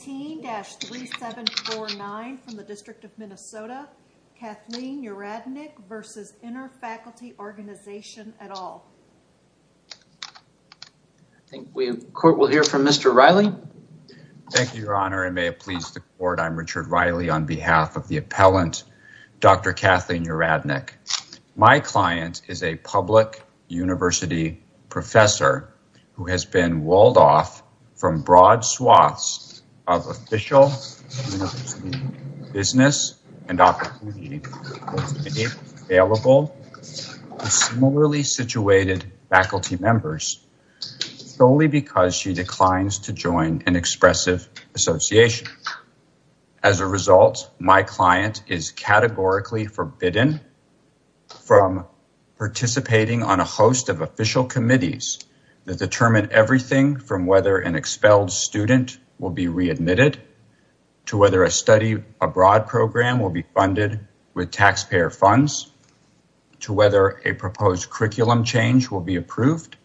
15-3749 from the District of Minnesota, Kathleen Uradnik v. Inter Faculty Organization et al. I think the court will hear from Mr. Riley. Thank you, Your Honor, and may it please the court, I'm Richard Riley on behalf of the appellant, Dr. Kathleen Uradnik. My client is a public university professor who has been walled off from broad swaths of official university business and opportunities available to similarly situated faculty members solely because she declines to join an expressive association. As a result, my client is categorically forbidden from participating on a host of official committees that determine everything from whether an expelled student will be readmitted, to whether a study abroad program will be funded with taxpayer funds, to whether a proposed curriculum change will be approved,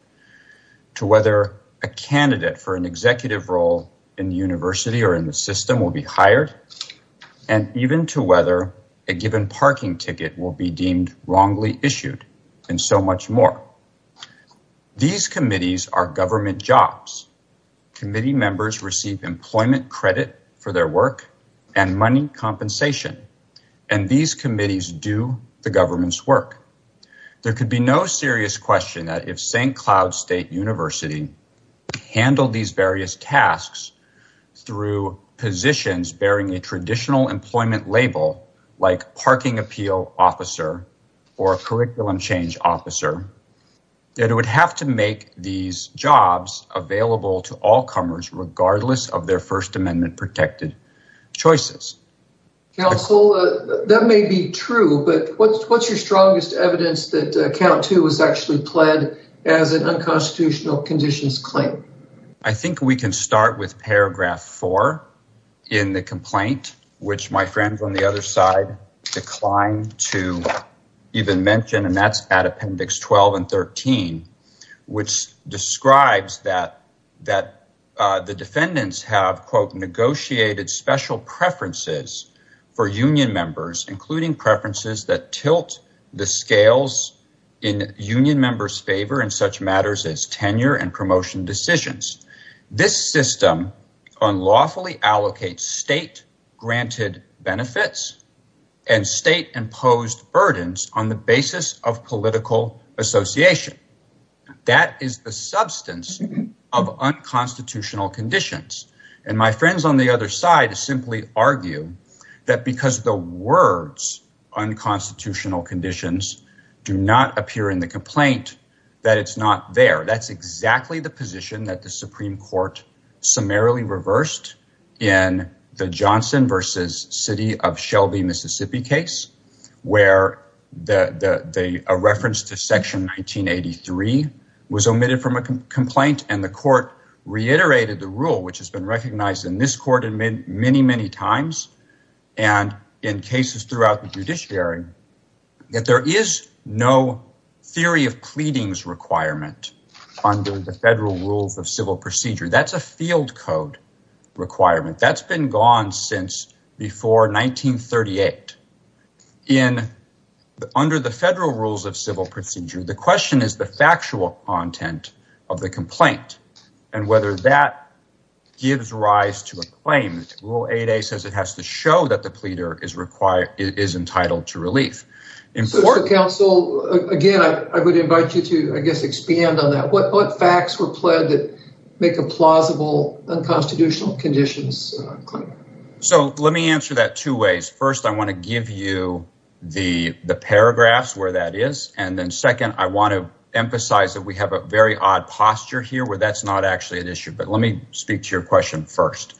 to whether a candidate for an executive role in the university or in the system will be hired, and even to whether a given parking ticket will be deemed wrongly issued, and so much more. These committees are government jobs. Committee members receive employment credit for their work and money compensation, and these committees do the government's work. There could be no serious question that if St. Cloud State University handled these various tasks through positions bearing a traditional employment label like parking appeal officer or a curriculum change officer, that it would have to make these jobs available to all comers regardless of their first amendment protected choices. Counsel, that may be true, but what's your strongest evidence that count two was actually pled as an unconstitutional conditions claim? I think we can start with paragraph four in the complaint, which my friends on the other side declined to even mention, and that's at appendix 12 and 13, which describes that the defendants have, quote, negotiated special preferences for union members, including preferences that tilt the scales in union members' favor in such matters as tenure and promotion decisions. This system unlawfully allocates state granted benefits and state imposed burdens on the basis of political association. That is the substance of unconstitutional conditions, and my friends on the other side simply argue that because the words unconstitutional conditions do not appear in the complaint, that it's not there. That's exactly the position that the Supreme Court summarily reversed in the Johnson versus City of Shelby, Mississippi case, where a reference to section 1983 was omitted from a complaint, and the court reiterated the rule, which has been recognized in this court many, many times, and in cases throughout the judiciary, that there is no theory of pleadings requirement under the federal rules of civil procedure. That's a field code requirement. That's been gone since before 1938. Under the federal rules of civil procedure, the question is the factual content of the complaint, and whether that gives rise to a claim. Rule 8A says it has to show that the pleader is entitled to relief. So, counsel, again, I would invite you to, I guess, expand on that. What facts were pled that make a plausible unconstitutional conditions claim? So, let me answer that two ways. First, I want to give you the paragraphs where that is, and then second, I want to emphasize that we have a very odd posture here where that's not actually an issue, but let me speak to your question first.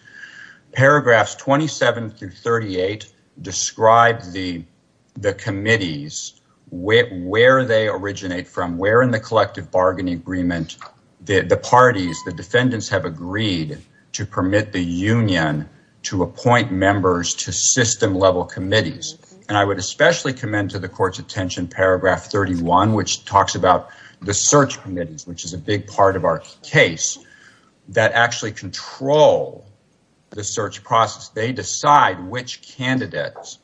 Paragraphs 27 through 38 describe the committees, where they originate from, where in the collective bargaining agreement the parties, the defendants have agreed to permit the union to appoint members to system-level committees, and I would especially commend to the court's attention paragraph 31, which talks about the search committees, which is a big part of our case, that actually control the search process. They decide which candidates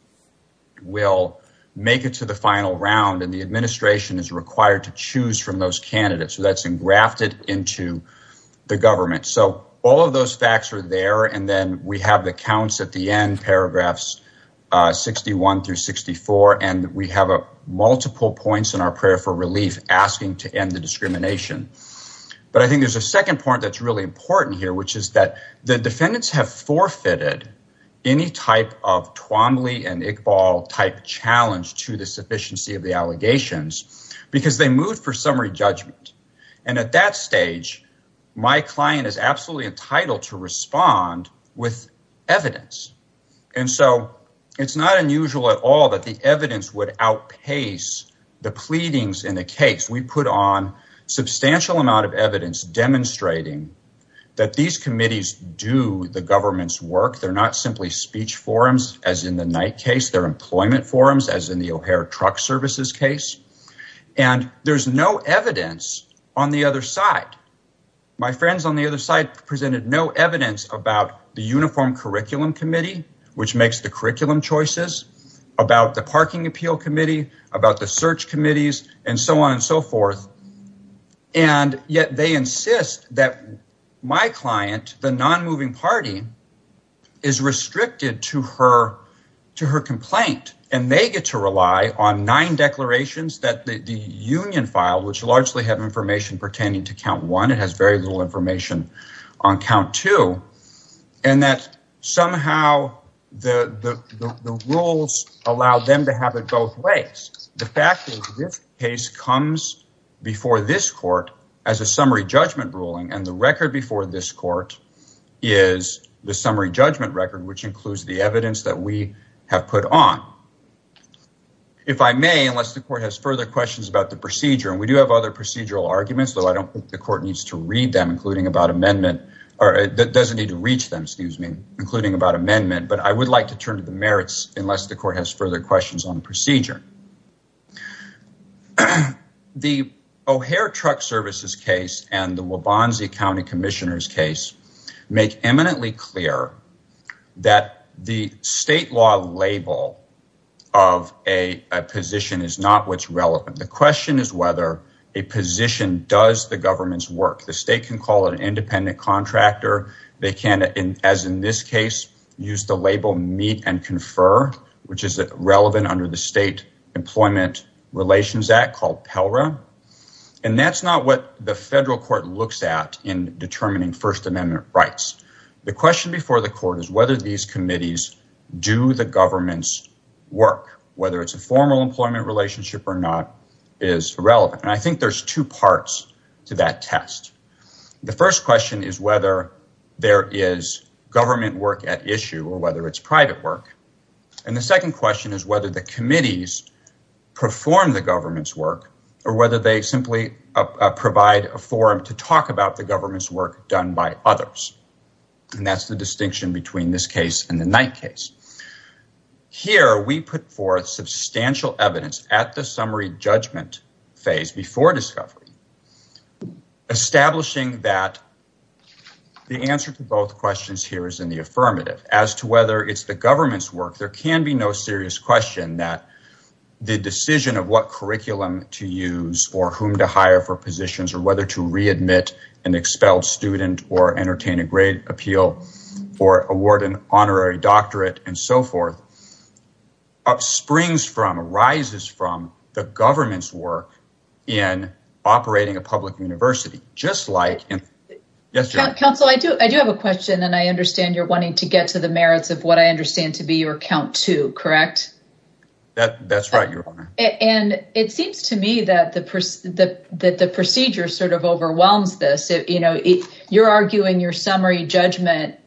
will make it to the final round, and the administration is required to choose from those candidates. So, that's engrafted into the government. So, all of those facts are there, and then we have the counts at the end, paragraphs 61 through 64, and we have multiple points in our prayer for relief, asking to end the discrimination. But I think there's a second point that's really important here, which is that the defendants have forfeited any type of Twombly and Iqbal type challenge to the sufficiency of the allegations, because they moved for summary judgment. And at that stage, my client is absolutely entitled to respond with evidence. And so, it's not unusual at all that the evidence would outpace the pleadings in the case. We put on substantial amount of evidence demonstrating that these committees do the government's work. They're not simply speech forums, as in the Knight case. They're employment forums, as in the O'Hare truck services case. And there's no evidence on the other side. My friends on the other side presented no evidence about the Uniform Curriculum Committee, which makes the curriculum choices, about the Parking Appeal Committee, about the search committees, and so on and so forth. And yet, they insist that my client, the non-moving party, is restricted to her complaint, and they get to rely on nine declarations that the union filed, which largely have information pertaining to count one, it has very little information on count two, and that somehow the rules allow them to have it both ways. The fact is, this case comes before this court as a summary judgment ruling, and the record before this court is the summary judgment record, which includes the evidence that we have put on. If I may, unless the court has further questions about the procedure, and we do have other procedural arguments, though I don't think the court needs to read them, including about amendment, or it doesn't need to reach them, excuse me, including about amendment, but I would like to turn to the merits, unless the court has further questions on procedure. The O'Hare truck services case, and the Waubonsie County Commissioner's case, make eminently clear that the state law label of a position is not what's relevant. The question is whether a position does the government's work. The state can call it an independent contractor, they can, as in this case, use the label meet and confer, which is relevant under the State Employment Relations Act called PELRA, and that's not what the federal court looks at in determining first amendment rights. The question before the court is whether these committees do the government's work. Whether it's a formal employment relationship or not is irrelevant, and I think there's two parts to that test. The first question is whether there is government work at issue, or whether it's private work, and the second question is the committees perform the government's work, or whether they simply provide a forum to talk about the government's work done by others, and that's the distinction between this case and the Knight case. Here, we put forth substantial evidence at the summary judgment phase before discovery, establishing that the answer to both questions here is in the affirmative. As to whether it's government's work, there can be no serious question that the decision of what curriculum to use, or whom to hire for positions, or whether to readmit an expelled student, or entertain a grade appeal, or award an honorary doctorate, and so forth, springs from, arises from, the government's work in operating a public university, just like... Council, I do have a question, and I understand you're wanting to get to the merits of what I understand to be your count two, correct? That's right, Your Honor. And it seems to me that the procedure sort of overwhelms this. You're arguing your summary judgment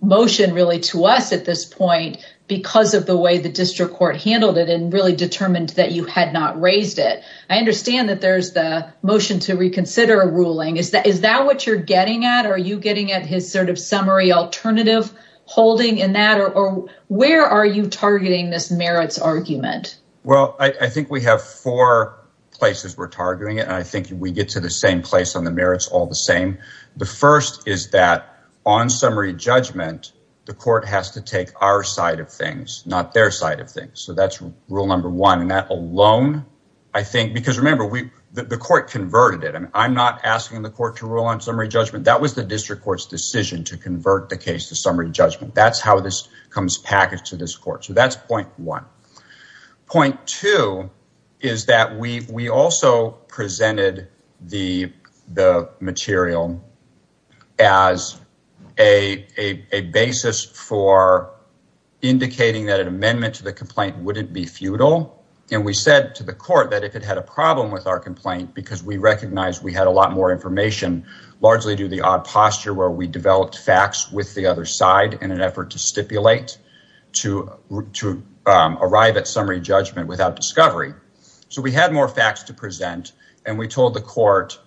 motion really to us at this point because of the way the district court handled it, and really determined that you had not raised it. I understand that there's the motion to reconsider a ruling. Is that what you're getting at, or are you getting at his summary alternative holding in that, or where are you targeting this merits argument? Well, I think we have four places we're targeting it, and I think we get to the same place on the merits all the same. The first is that on summary judgment, the court has to take our side of things, not their side of things. So that's rule number one. And that alone, I think, because remember, the court converted it. I'm not asking the court to rule on summary judgment. That was the district court's decision to convert the case to summary judgment. That's how this comes packaged to this court. So that's point one. Point two is that we also presented the material as a basis for indicating that an amendment to the complaint wouldn't be futile. And we said to the court that if it had a problem with our complaint, because we recognized we had a lot more information, largely due to the odd posture where we developed facts with the other side in an effort to stipulate to arrive at summary judgment without discovery. So we had more facts to present, and we told the court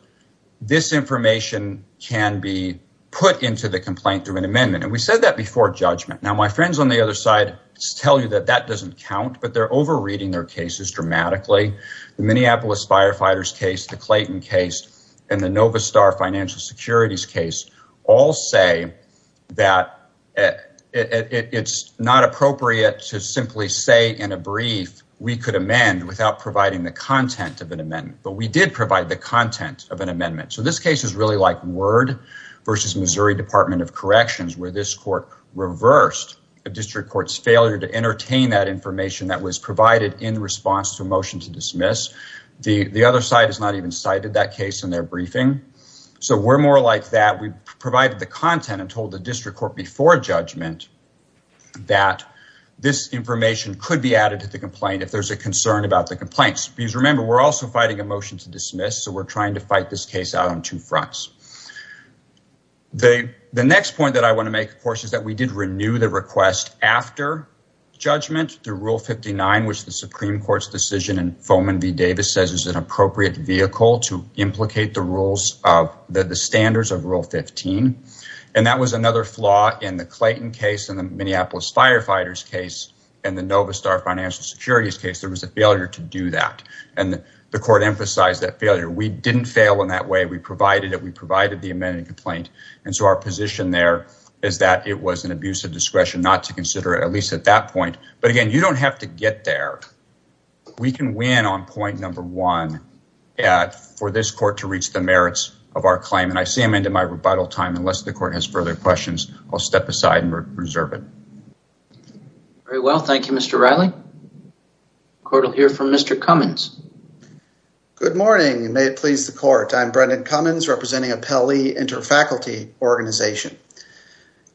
this information can be put into the complaint through an amendment. And we said that before judgment. Now, my friends on the other side tell you that that doesn't count, but they're over-reading their cases dramatically. The Minneapolis firefighters case, the Clayton case, and the Novastar financial securities case all say that it's not appropriate to simply say in a brief, we could amend without providing the content of an amendment. But we did provide the content of an amendment. So this case is really like word versus Missouri Department of Corrections, where this court reversed a district court's failure to entertain that information that was their briefing. So we're more like that. We provided the content and told the district court before judgment that this information could be added to the complaint if there's a concern about the complaints. Because remember, we're also fighting a motion to dismiss, so we're trying to fight this case out on two fronts. The next point that I want to make, of course, is that we did renew the request after judgment through Rule 59, which the Supreme Court's decision in Foman v. the rules of the standards of Rule 15. And that was another flaw in the Clayton case and the Minneapolis firefighters case and the Novastar financial securities case. There was a failure to do that, and the court emphasized that failure. We didn't fail in that way. We provided it. We provided the amended complaint. And so our position there is that it was an abuse of discretion not to consider it, at least at that point. But again, you don't have to get there. We can win on point one for this court to reach the merits of our claim. And I see I'm into my rebuttal time. Unless the court has further questions, I'll step aside and reserve it. Very well. Thank you, Mr. Reilly. The court will hear from Mr. Cummins. Good morning, and may it please the court. I'm Brendan Cummins, representing Appellee Interfaculty Organization.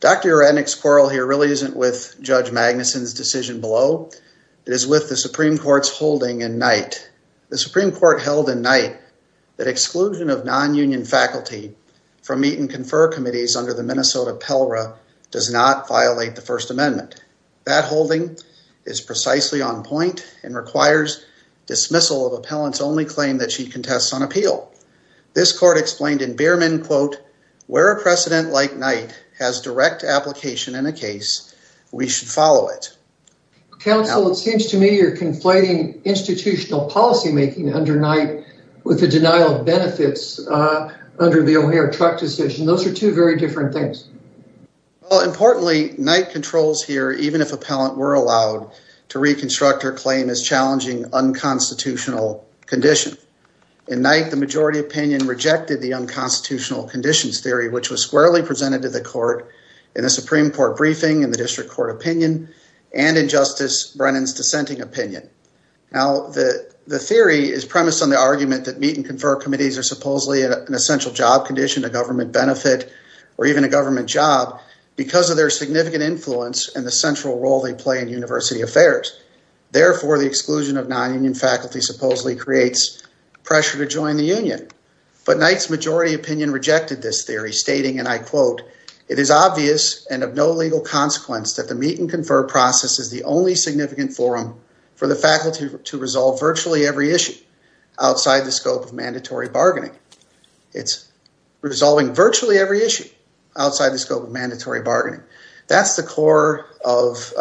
Dr. Rednick's quarrel here really isn't with Judge Magnuson's decision below. It is with the Supreme Court's holding in Knight. The Supreme Court held in Knight that exclusion of non-union faculty from meet and confer committees under the Minnesota PELRA does not violate the First Amendment. That holding is precisely on point and requires dismissal of Appellant's only claim that she contests on appeal. This court explained in Behrman, quote, where a precedent like Knight has direct application in a case, we should follow it. Counsel, it seems to me you're conflating institutional policymaking under Knight with the denial of benefits under the O'Hare truck decision. Those are two very different things. Well, importantly, Knight controls here, even if Appellant were allowed to reconstruct her claim as challenging unconstitutional condition. In Knight, the majority opinion rejected the unconstitutional conditions theory, which was squarely presented to the court in the Supreme Court briefing and the district court opinion and in Justice Brennan's dissenting opinion. Now, the theory is premised on the argument that meet and confer committees are supposedly an essential job condition, a government benefit, or even a government job because of their significant influence and the central role they play in university affairs. Therefore, the exclusion of non-union faculty supposedly creates pressure to join the union. But Knight's majority opinion rejected this theory, stating, and I quote, it is obvious and of no legal consequence that the meet and confer process is the only significant forum for the faculty to resolve virtually every issue outside the scope of mandatory bargaining. It's resolving virtually every issue outside the scope of mandatory bargaining. That's the core of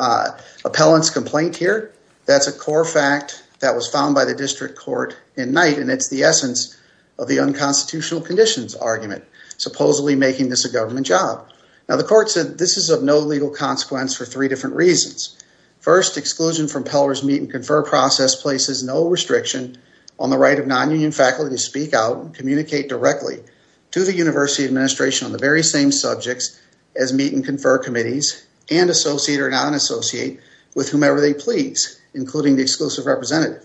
Appellant's complaint here. That's a core fact that was found by the district court in Knight, and it's the essence of the unconstitutional conditions argument, supposedly making this a government job. Now, the court said this is of no legal consequence for three different reasons. First, exclusion from Peller's meet and confer process places no restriction on the right of non-union faculty to speak out and communicate directly to the university administration on the very same subjects as meet and confer committees and associate or non-associate with whomever they including the exclusive representative.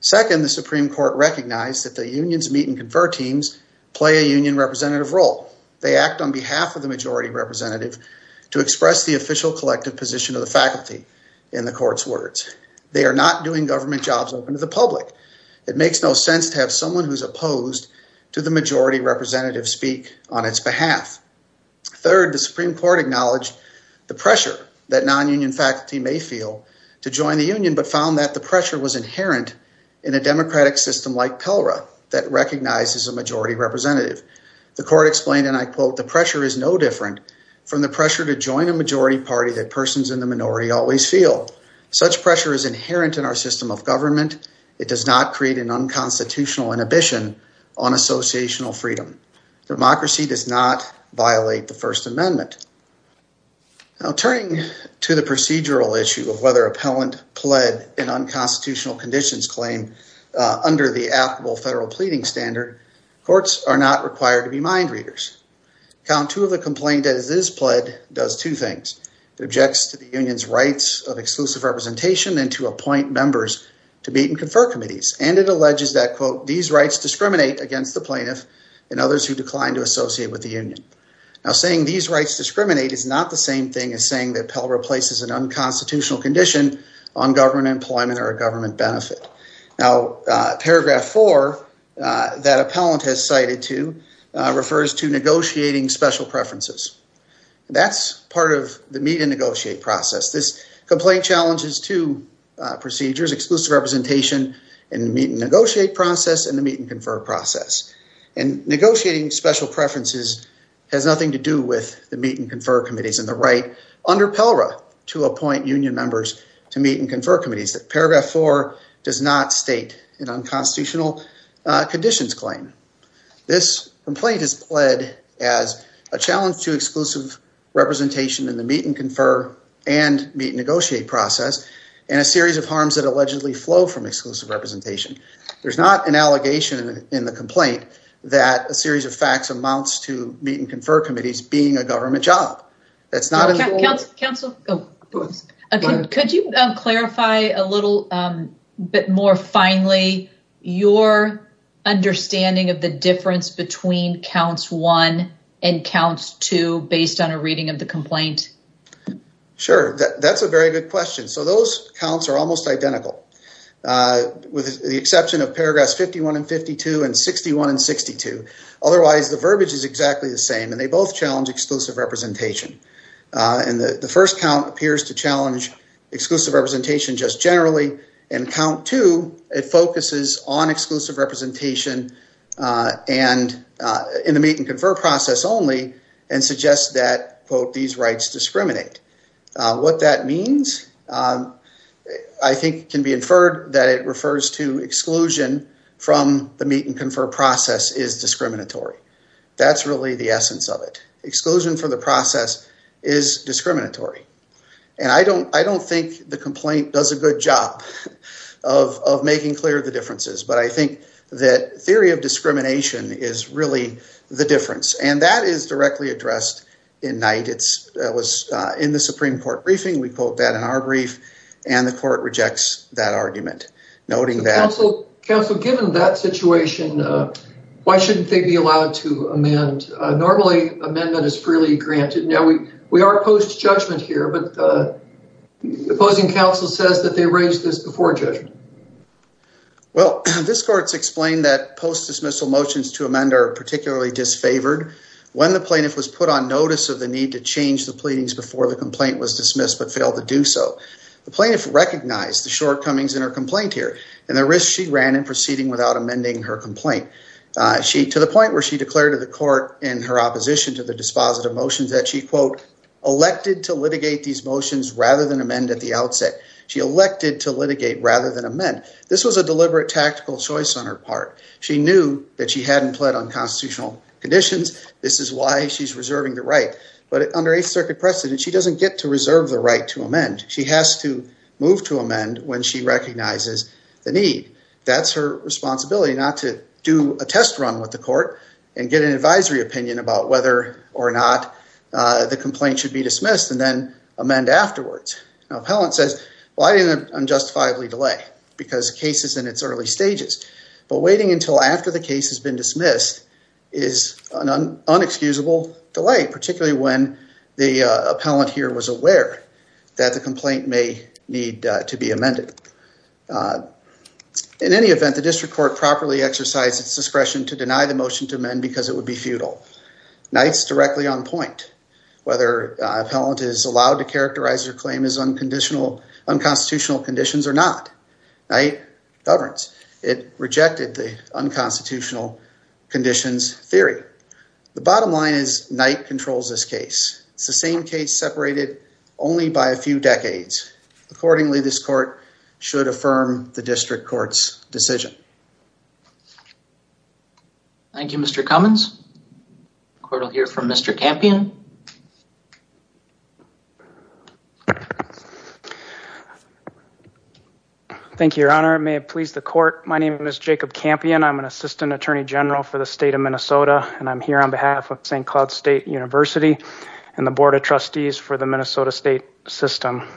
Second, the Supreme Court recognized that the unions meet and confer teams play a union representative role. They act on behalf of the majority representative to express the official collective position of the faculty in the court's words. They are not doing government jobs open to the public. It makes no sense to have someone who's opposed to the majority representative speak on its behalf. Third, the Supreme Court acknowledged the pressure that non-union faculty may feel to join the union, but found that the pressure was inherent in a democratic system like Pellera that recognizes a majority representative. The court explained, and I quote, the pressure is no different from the pressure to join a majority party that persons in the minority always feel. Such pressure is inherent in our system of government. It does not create an unconstitutional inhibition on associational freedom. Democracy does not violate the first amendment. Now turning to the procedural issue of whether appellant pled in unconstitutional conditions claim under the applicable federal pleading standard, courts are not required to be mind readers. Count two of the complaint that is pled does two things. It objects to the union's rights of exclusive representation and to appoint members to meet and confer committees. And it alleges that quote, these rights discriminate against the plaintiff and others who decline to associate with the union. Now saying these rights discriminate is not the same thing as saying that Pell replaces an unconstitutional condition on government employment or a government benefit. Now paragraph four that appellant has cited to refers to negotiating special preferences. That's part of the meet and negotiate process. This complaint challenges two procedures, exclusive representation and meet and negotiate process and the meet and confer process. And negotiating special preferences has nothing to do with the meet and confer committees and the right under Pellera to appoint union members to meet and confer committees. That paragraph four does not state an unconstitutional conditions claim. This complaint is pled as a challenge to exclusive representation in the meet and confer and meet negotiate process and a series of harms that allegedly flow from exclusive representation. There's not an allegation in the complaint that a series of facts amounts to meet and confer committees being a government job. That's not. Councilor, could you clarify a little bit more finally your understanding of the difference between counts one and counts two based on a reading of the complaint? Sure. That's a very good question. So those counts are almost identical with the exception of paragraphs 51 and 52 and 61 and 62. Otherwise the verbiage is exactly the same and they both challenge exclusive representation. And the first count appears to challenge exclusive representation just generally and count two it focuses on exclusive representation and in the meet and confer process only and suggests that quote these rights discriminate. What that means I think can be inferred that it refers to exclusion from the meet and confer process is discriminatory. That's really the essence of it. Exclusion for the process is discriminatory and I don't think the complaint does a good job of making clear the differences but I think that theory of discrimination is really the difference and that is directly addressed in night. It was in the Supreme Court briefing. We quote that in our brief and the court rejects that argument noting that. Councilor, given that situation why shouldn't they be allowed to amend? Normally amendment is freely granted. Now we are post judgment here but the opposing council says that they raised this before judgment. Well this court's explained that post dismissal motions to amend are particularly disfavored when the plaintiff was put on notice of the need to change the pleadings before the complaint was dismissed but failed to do so. The plaintiff recognized the shortcomings in her complaint here and the risk she ran in proceeding without amending her complaint. She to the point where she declared to the court in her opposition to the dispositive motions that she quote elected to litigate these motions rather than amend at the outset. She elected to litigate rather than amend. This was a deliberate tactical choice on her part. She knew that she hadn't pled on constitutional conditions. This is why she's reserving the right but under eighth circuit precedent she doesn't get to reserve the right to amend. She has to move to amend when she recognizes the need. That's her responsibility not to do a test run with the court and get an advisory opinion about whether or not the complaint should be dismissed and then amend afterwards. Now appellant says well I didn't unjustifiably delay because case is in its early stages but waiting until after the case has been dismissed is an unexcusable delay particularly when the appellant here was aware that the complaint may need to be amended. In any event, the district court properly exercised its discretion to deny the motion to amend because it would be futile. Knight's directly on point whether appellant is allowed to characterize her claim as unconstitutional conditions or not. Knight governs. It rejected the unconstitutional conditions theory. The bottom line is Knight controls this case. It's the same case separated only by a few decades. Accordingly, this court should affirm the district court's decision. Thank you Mr. Cummins. The court will hear from Mr. Campion. Thank you, your honor. May it please the court. My name is Jacob Campion. I'm an assistant attorney general for the state of Minnesota and I'm here on behalf of St. Cloud State University and the board of trustees for the Minnesota state system.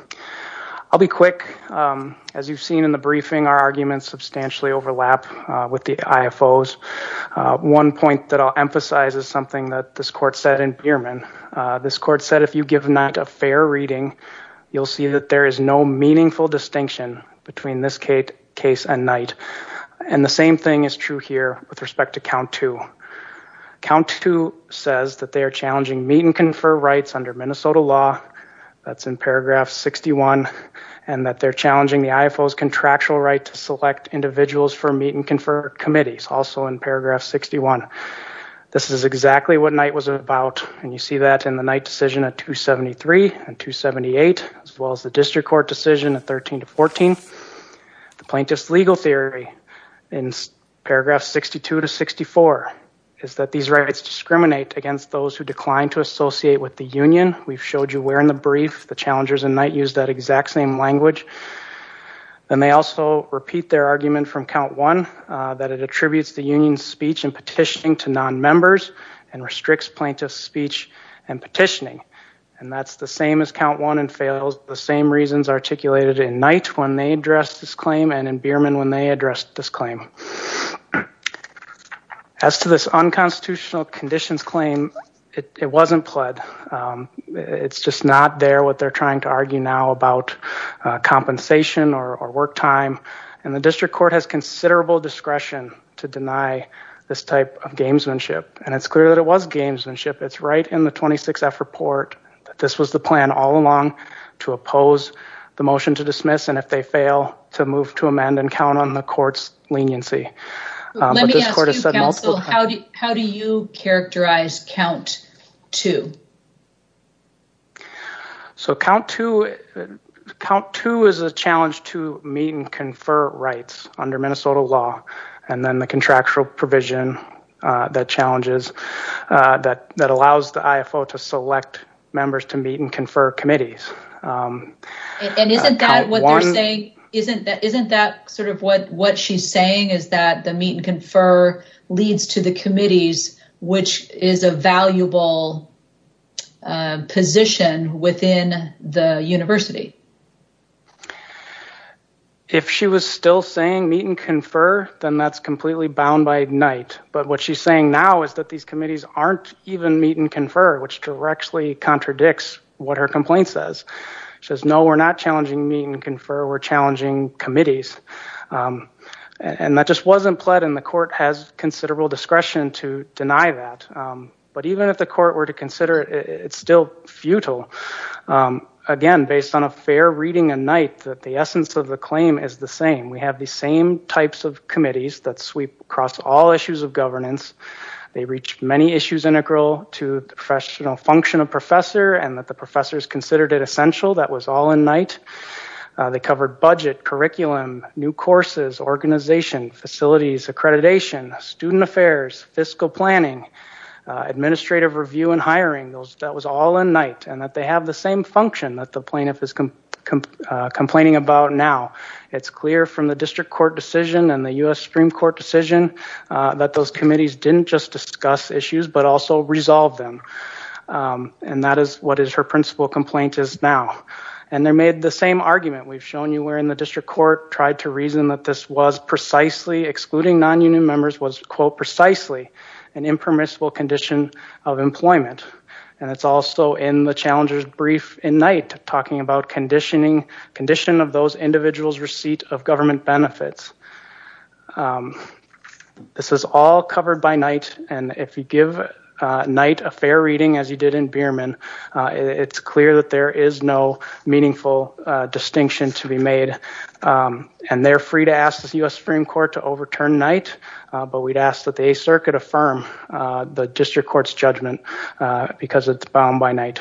I'll be quick. As you've seen in the briefing, our arguments substantially overlap with the IFOs. One point that I'll emphasize is something that this court said in Beerman. This court said if you give not a fair reading, you'll see that there is no meaningful distinction between this case and Knight. And the same thing is true here with respect to count two. Count two says that they are challenging meet and confer rights under Minnesota law. That's in paragraph 61 and that they're challenging the IFOs contractual right to select individuals for meet and confer committees also in paragraph 61. This is exactly what Knight was about and you see that in the Knight decision at 273 and 278 as well as the district court decision at 13 to 14. The plaintiff's legal theory in paragraph 62 to 64 is that these rights discriminate against those who decline to associate with the union. We've showed you where in the brief the challengers and Knight use that exact same language. Then they also repeat their argument from count one that it attributes the union's speech and petitioning to non-members and restricts plaintiff's speech and petitioning. That's the same as count one and fails the same reasons articulated in Knight when they addressed this claim and in Beerman when they addressed this claim. As to this unconstitutional conditions claim, it wasn't pled. It's just not there what they're trying to argue now about compensation or work time and the district court has considerable discretion to deny this type of gamesmanship. It's right in the 26F report that this was the plan all along to oppose the motion to dismiss and if they fail to move to amend and count on the court's leniency. Let me ask you counsel, how do you characterize count two? So count two is a challenge to meet and confer rights under Minnesota law and then the contractual provision that challenges that allows the IFO to select members to meet and confer committees. And isn't that what they're saying? Isn't that sort of what what she's saying is that the meet and confer leads to the committees which is a valuable position within the university? If she was still saying meet and confer, then that's completely bound by Knight. But what she's saying now is that these committees aren't even meet and confer which directly contradicts what her complaint says. She says no, we're not challenging meet and confer, we're challenging committees. And that just wasn't pled and the court has considerable discretion to deny that. But even if the court were to consider it, it's still futile. Again, based on a fact that fair reading and Knight that the essence of the claim is the same. We have the same types of committees that sweep across all issues of governance. They reach many issues integral to the professional function of professor and that the professors considered it essential. That was all in Knight. They covered budget, curriculum, new courses, organization, facilities, accreditation, student affairs, fiscal planning, administrative review and hiring. That was all in Knight and they have the same function that the plaintiff is complaining about now. It's clear from the district court decision and the U.S. Supreme Court decision that those committees didn't just discuss issues but also resolve them. And that is what is her principal complaint is now. And they made the same argument. We've shown you where in the district court tried to reason that this was precisely, excluding nonunion members, was quote precisely an impermissible condition of employment. And it's also in the challenger's brief in Knight talking about conditioning, condition of those individuals receipt of government benefits. This is all covered by Knight and if you give Knight a fair reading as you did in Beerman, it's clear that there is no meaningful distinction to be made. And they're free to ask the U.S. Supreme Court to overturn Knight but we'd ask that the 8th Circuit affirm the district court's judgment because it's bound by Knight.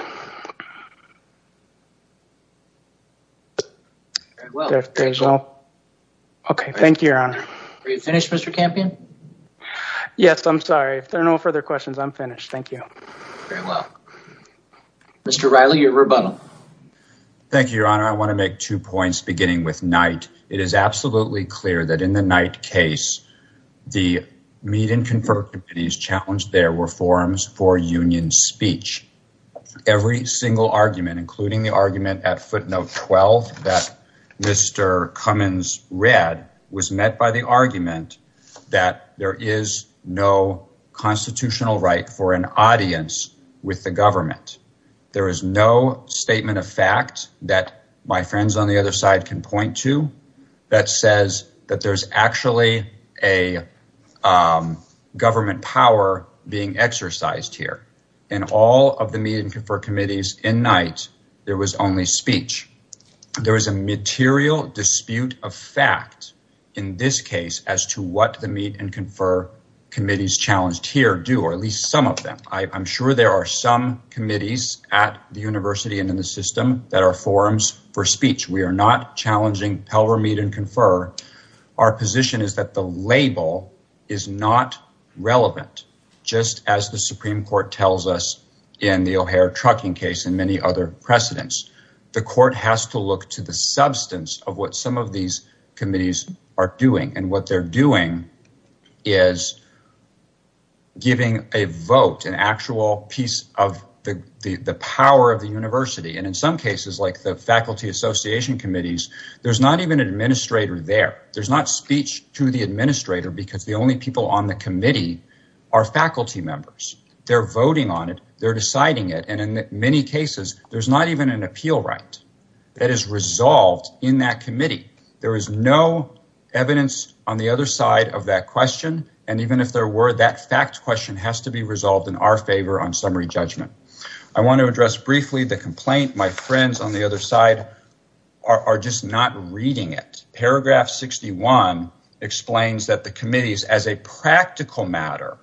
Okay, thank you, your honor. Are you finished, Mr. Campion? Yes, I'm sorry. If there are no further questions, I'm finished. Thank you. Very well. Mr. Riley, your rebuttal. Thank you, your honor. I want to make two points beginning with Knight. It is absolutely clear that in the conferred committees challenged, there were forums for union speech. Every single argument, including the argument at footnote 12 that Mr. Cummins read was met by the argument that there is no constitutional right for an audience with the government. There is no statement of fact that my friends on the other side can point to that says that there's actually a government power being exercised here. In all of the meet and confer committees in Knight, there was only speech. There is a material dispute of fact in this case as to what the meet and confer committees challenged here do, or at least some of them. I'm sure there are some committees at the university and in the system that are forums for speech. We are not challenging Pelver meet and confer. Our position is that the label is not relevant, just as the Supreme Court tells us in the O'Hare trucking case and many other precedents. The court has to look to the substance of what some of these committees are doing. What they're doing is giving a vote, an actual piece of the power of the university. In some cases, like the faculty association committees, there's not even an administrator there. There's not speech to the administrator because the only people on the committee are faculty members. They're voting on it. They're deciding it. In many cases, there's not even an appeal right that is resolved in that committee. There is no evidence on the other side of that question. Even if there were, that fact question has to be resolved in our favor on summary judgment. I want to address briefly the complaint my friends on the other side are just not reading it. Paragraph 61 explains that the committees, as a practical matter,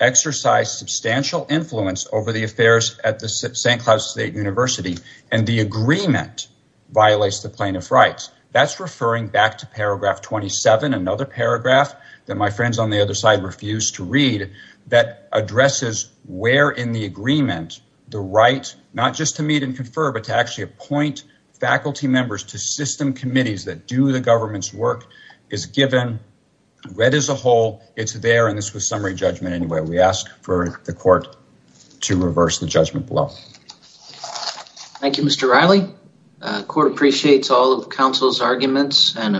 exercise substantial influence over the affairs at the St. Cloud State University and the agreement violates the plaintiff rights. That's referring back to paragraph 27, another paragraph that my friends on the other side refuse to read, that addresses where in the agreement the right not just to meet and confer but to actually appoint faculty members to system committees that do the government's work is given read as a whole. It's there and this was summary judgment anyway. We ask for the court to reverse the judgment below. Thank you Mr. Riley. The court appreciates all of counsel's arguments and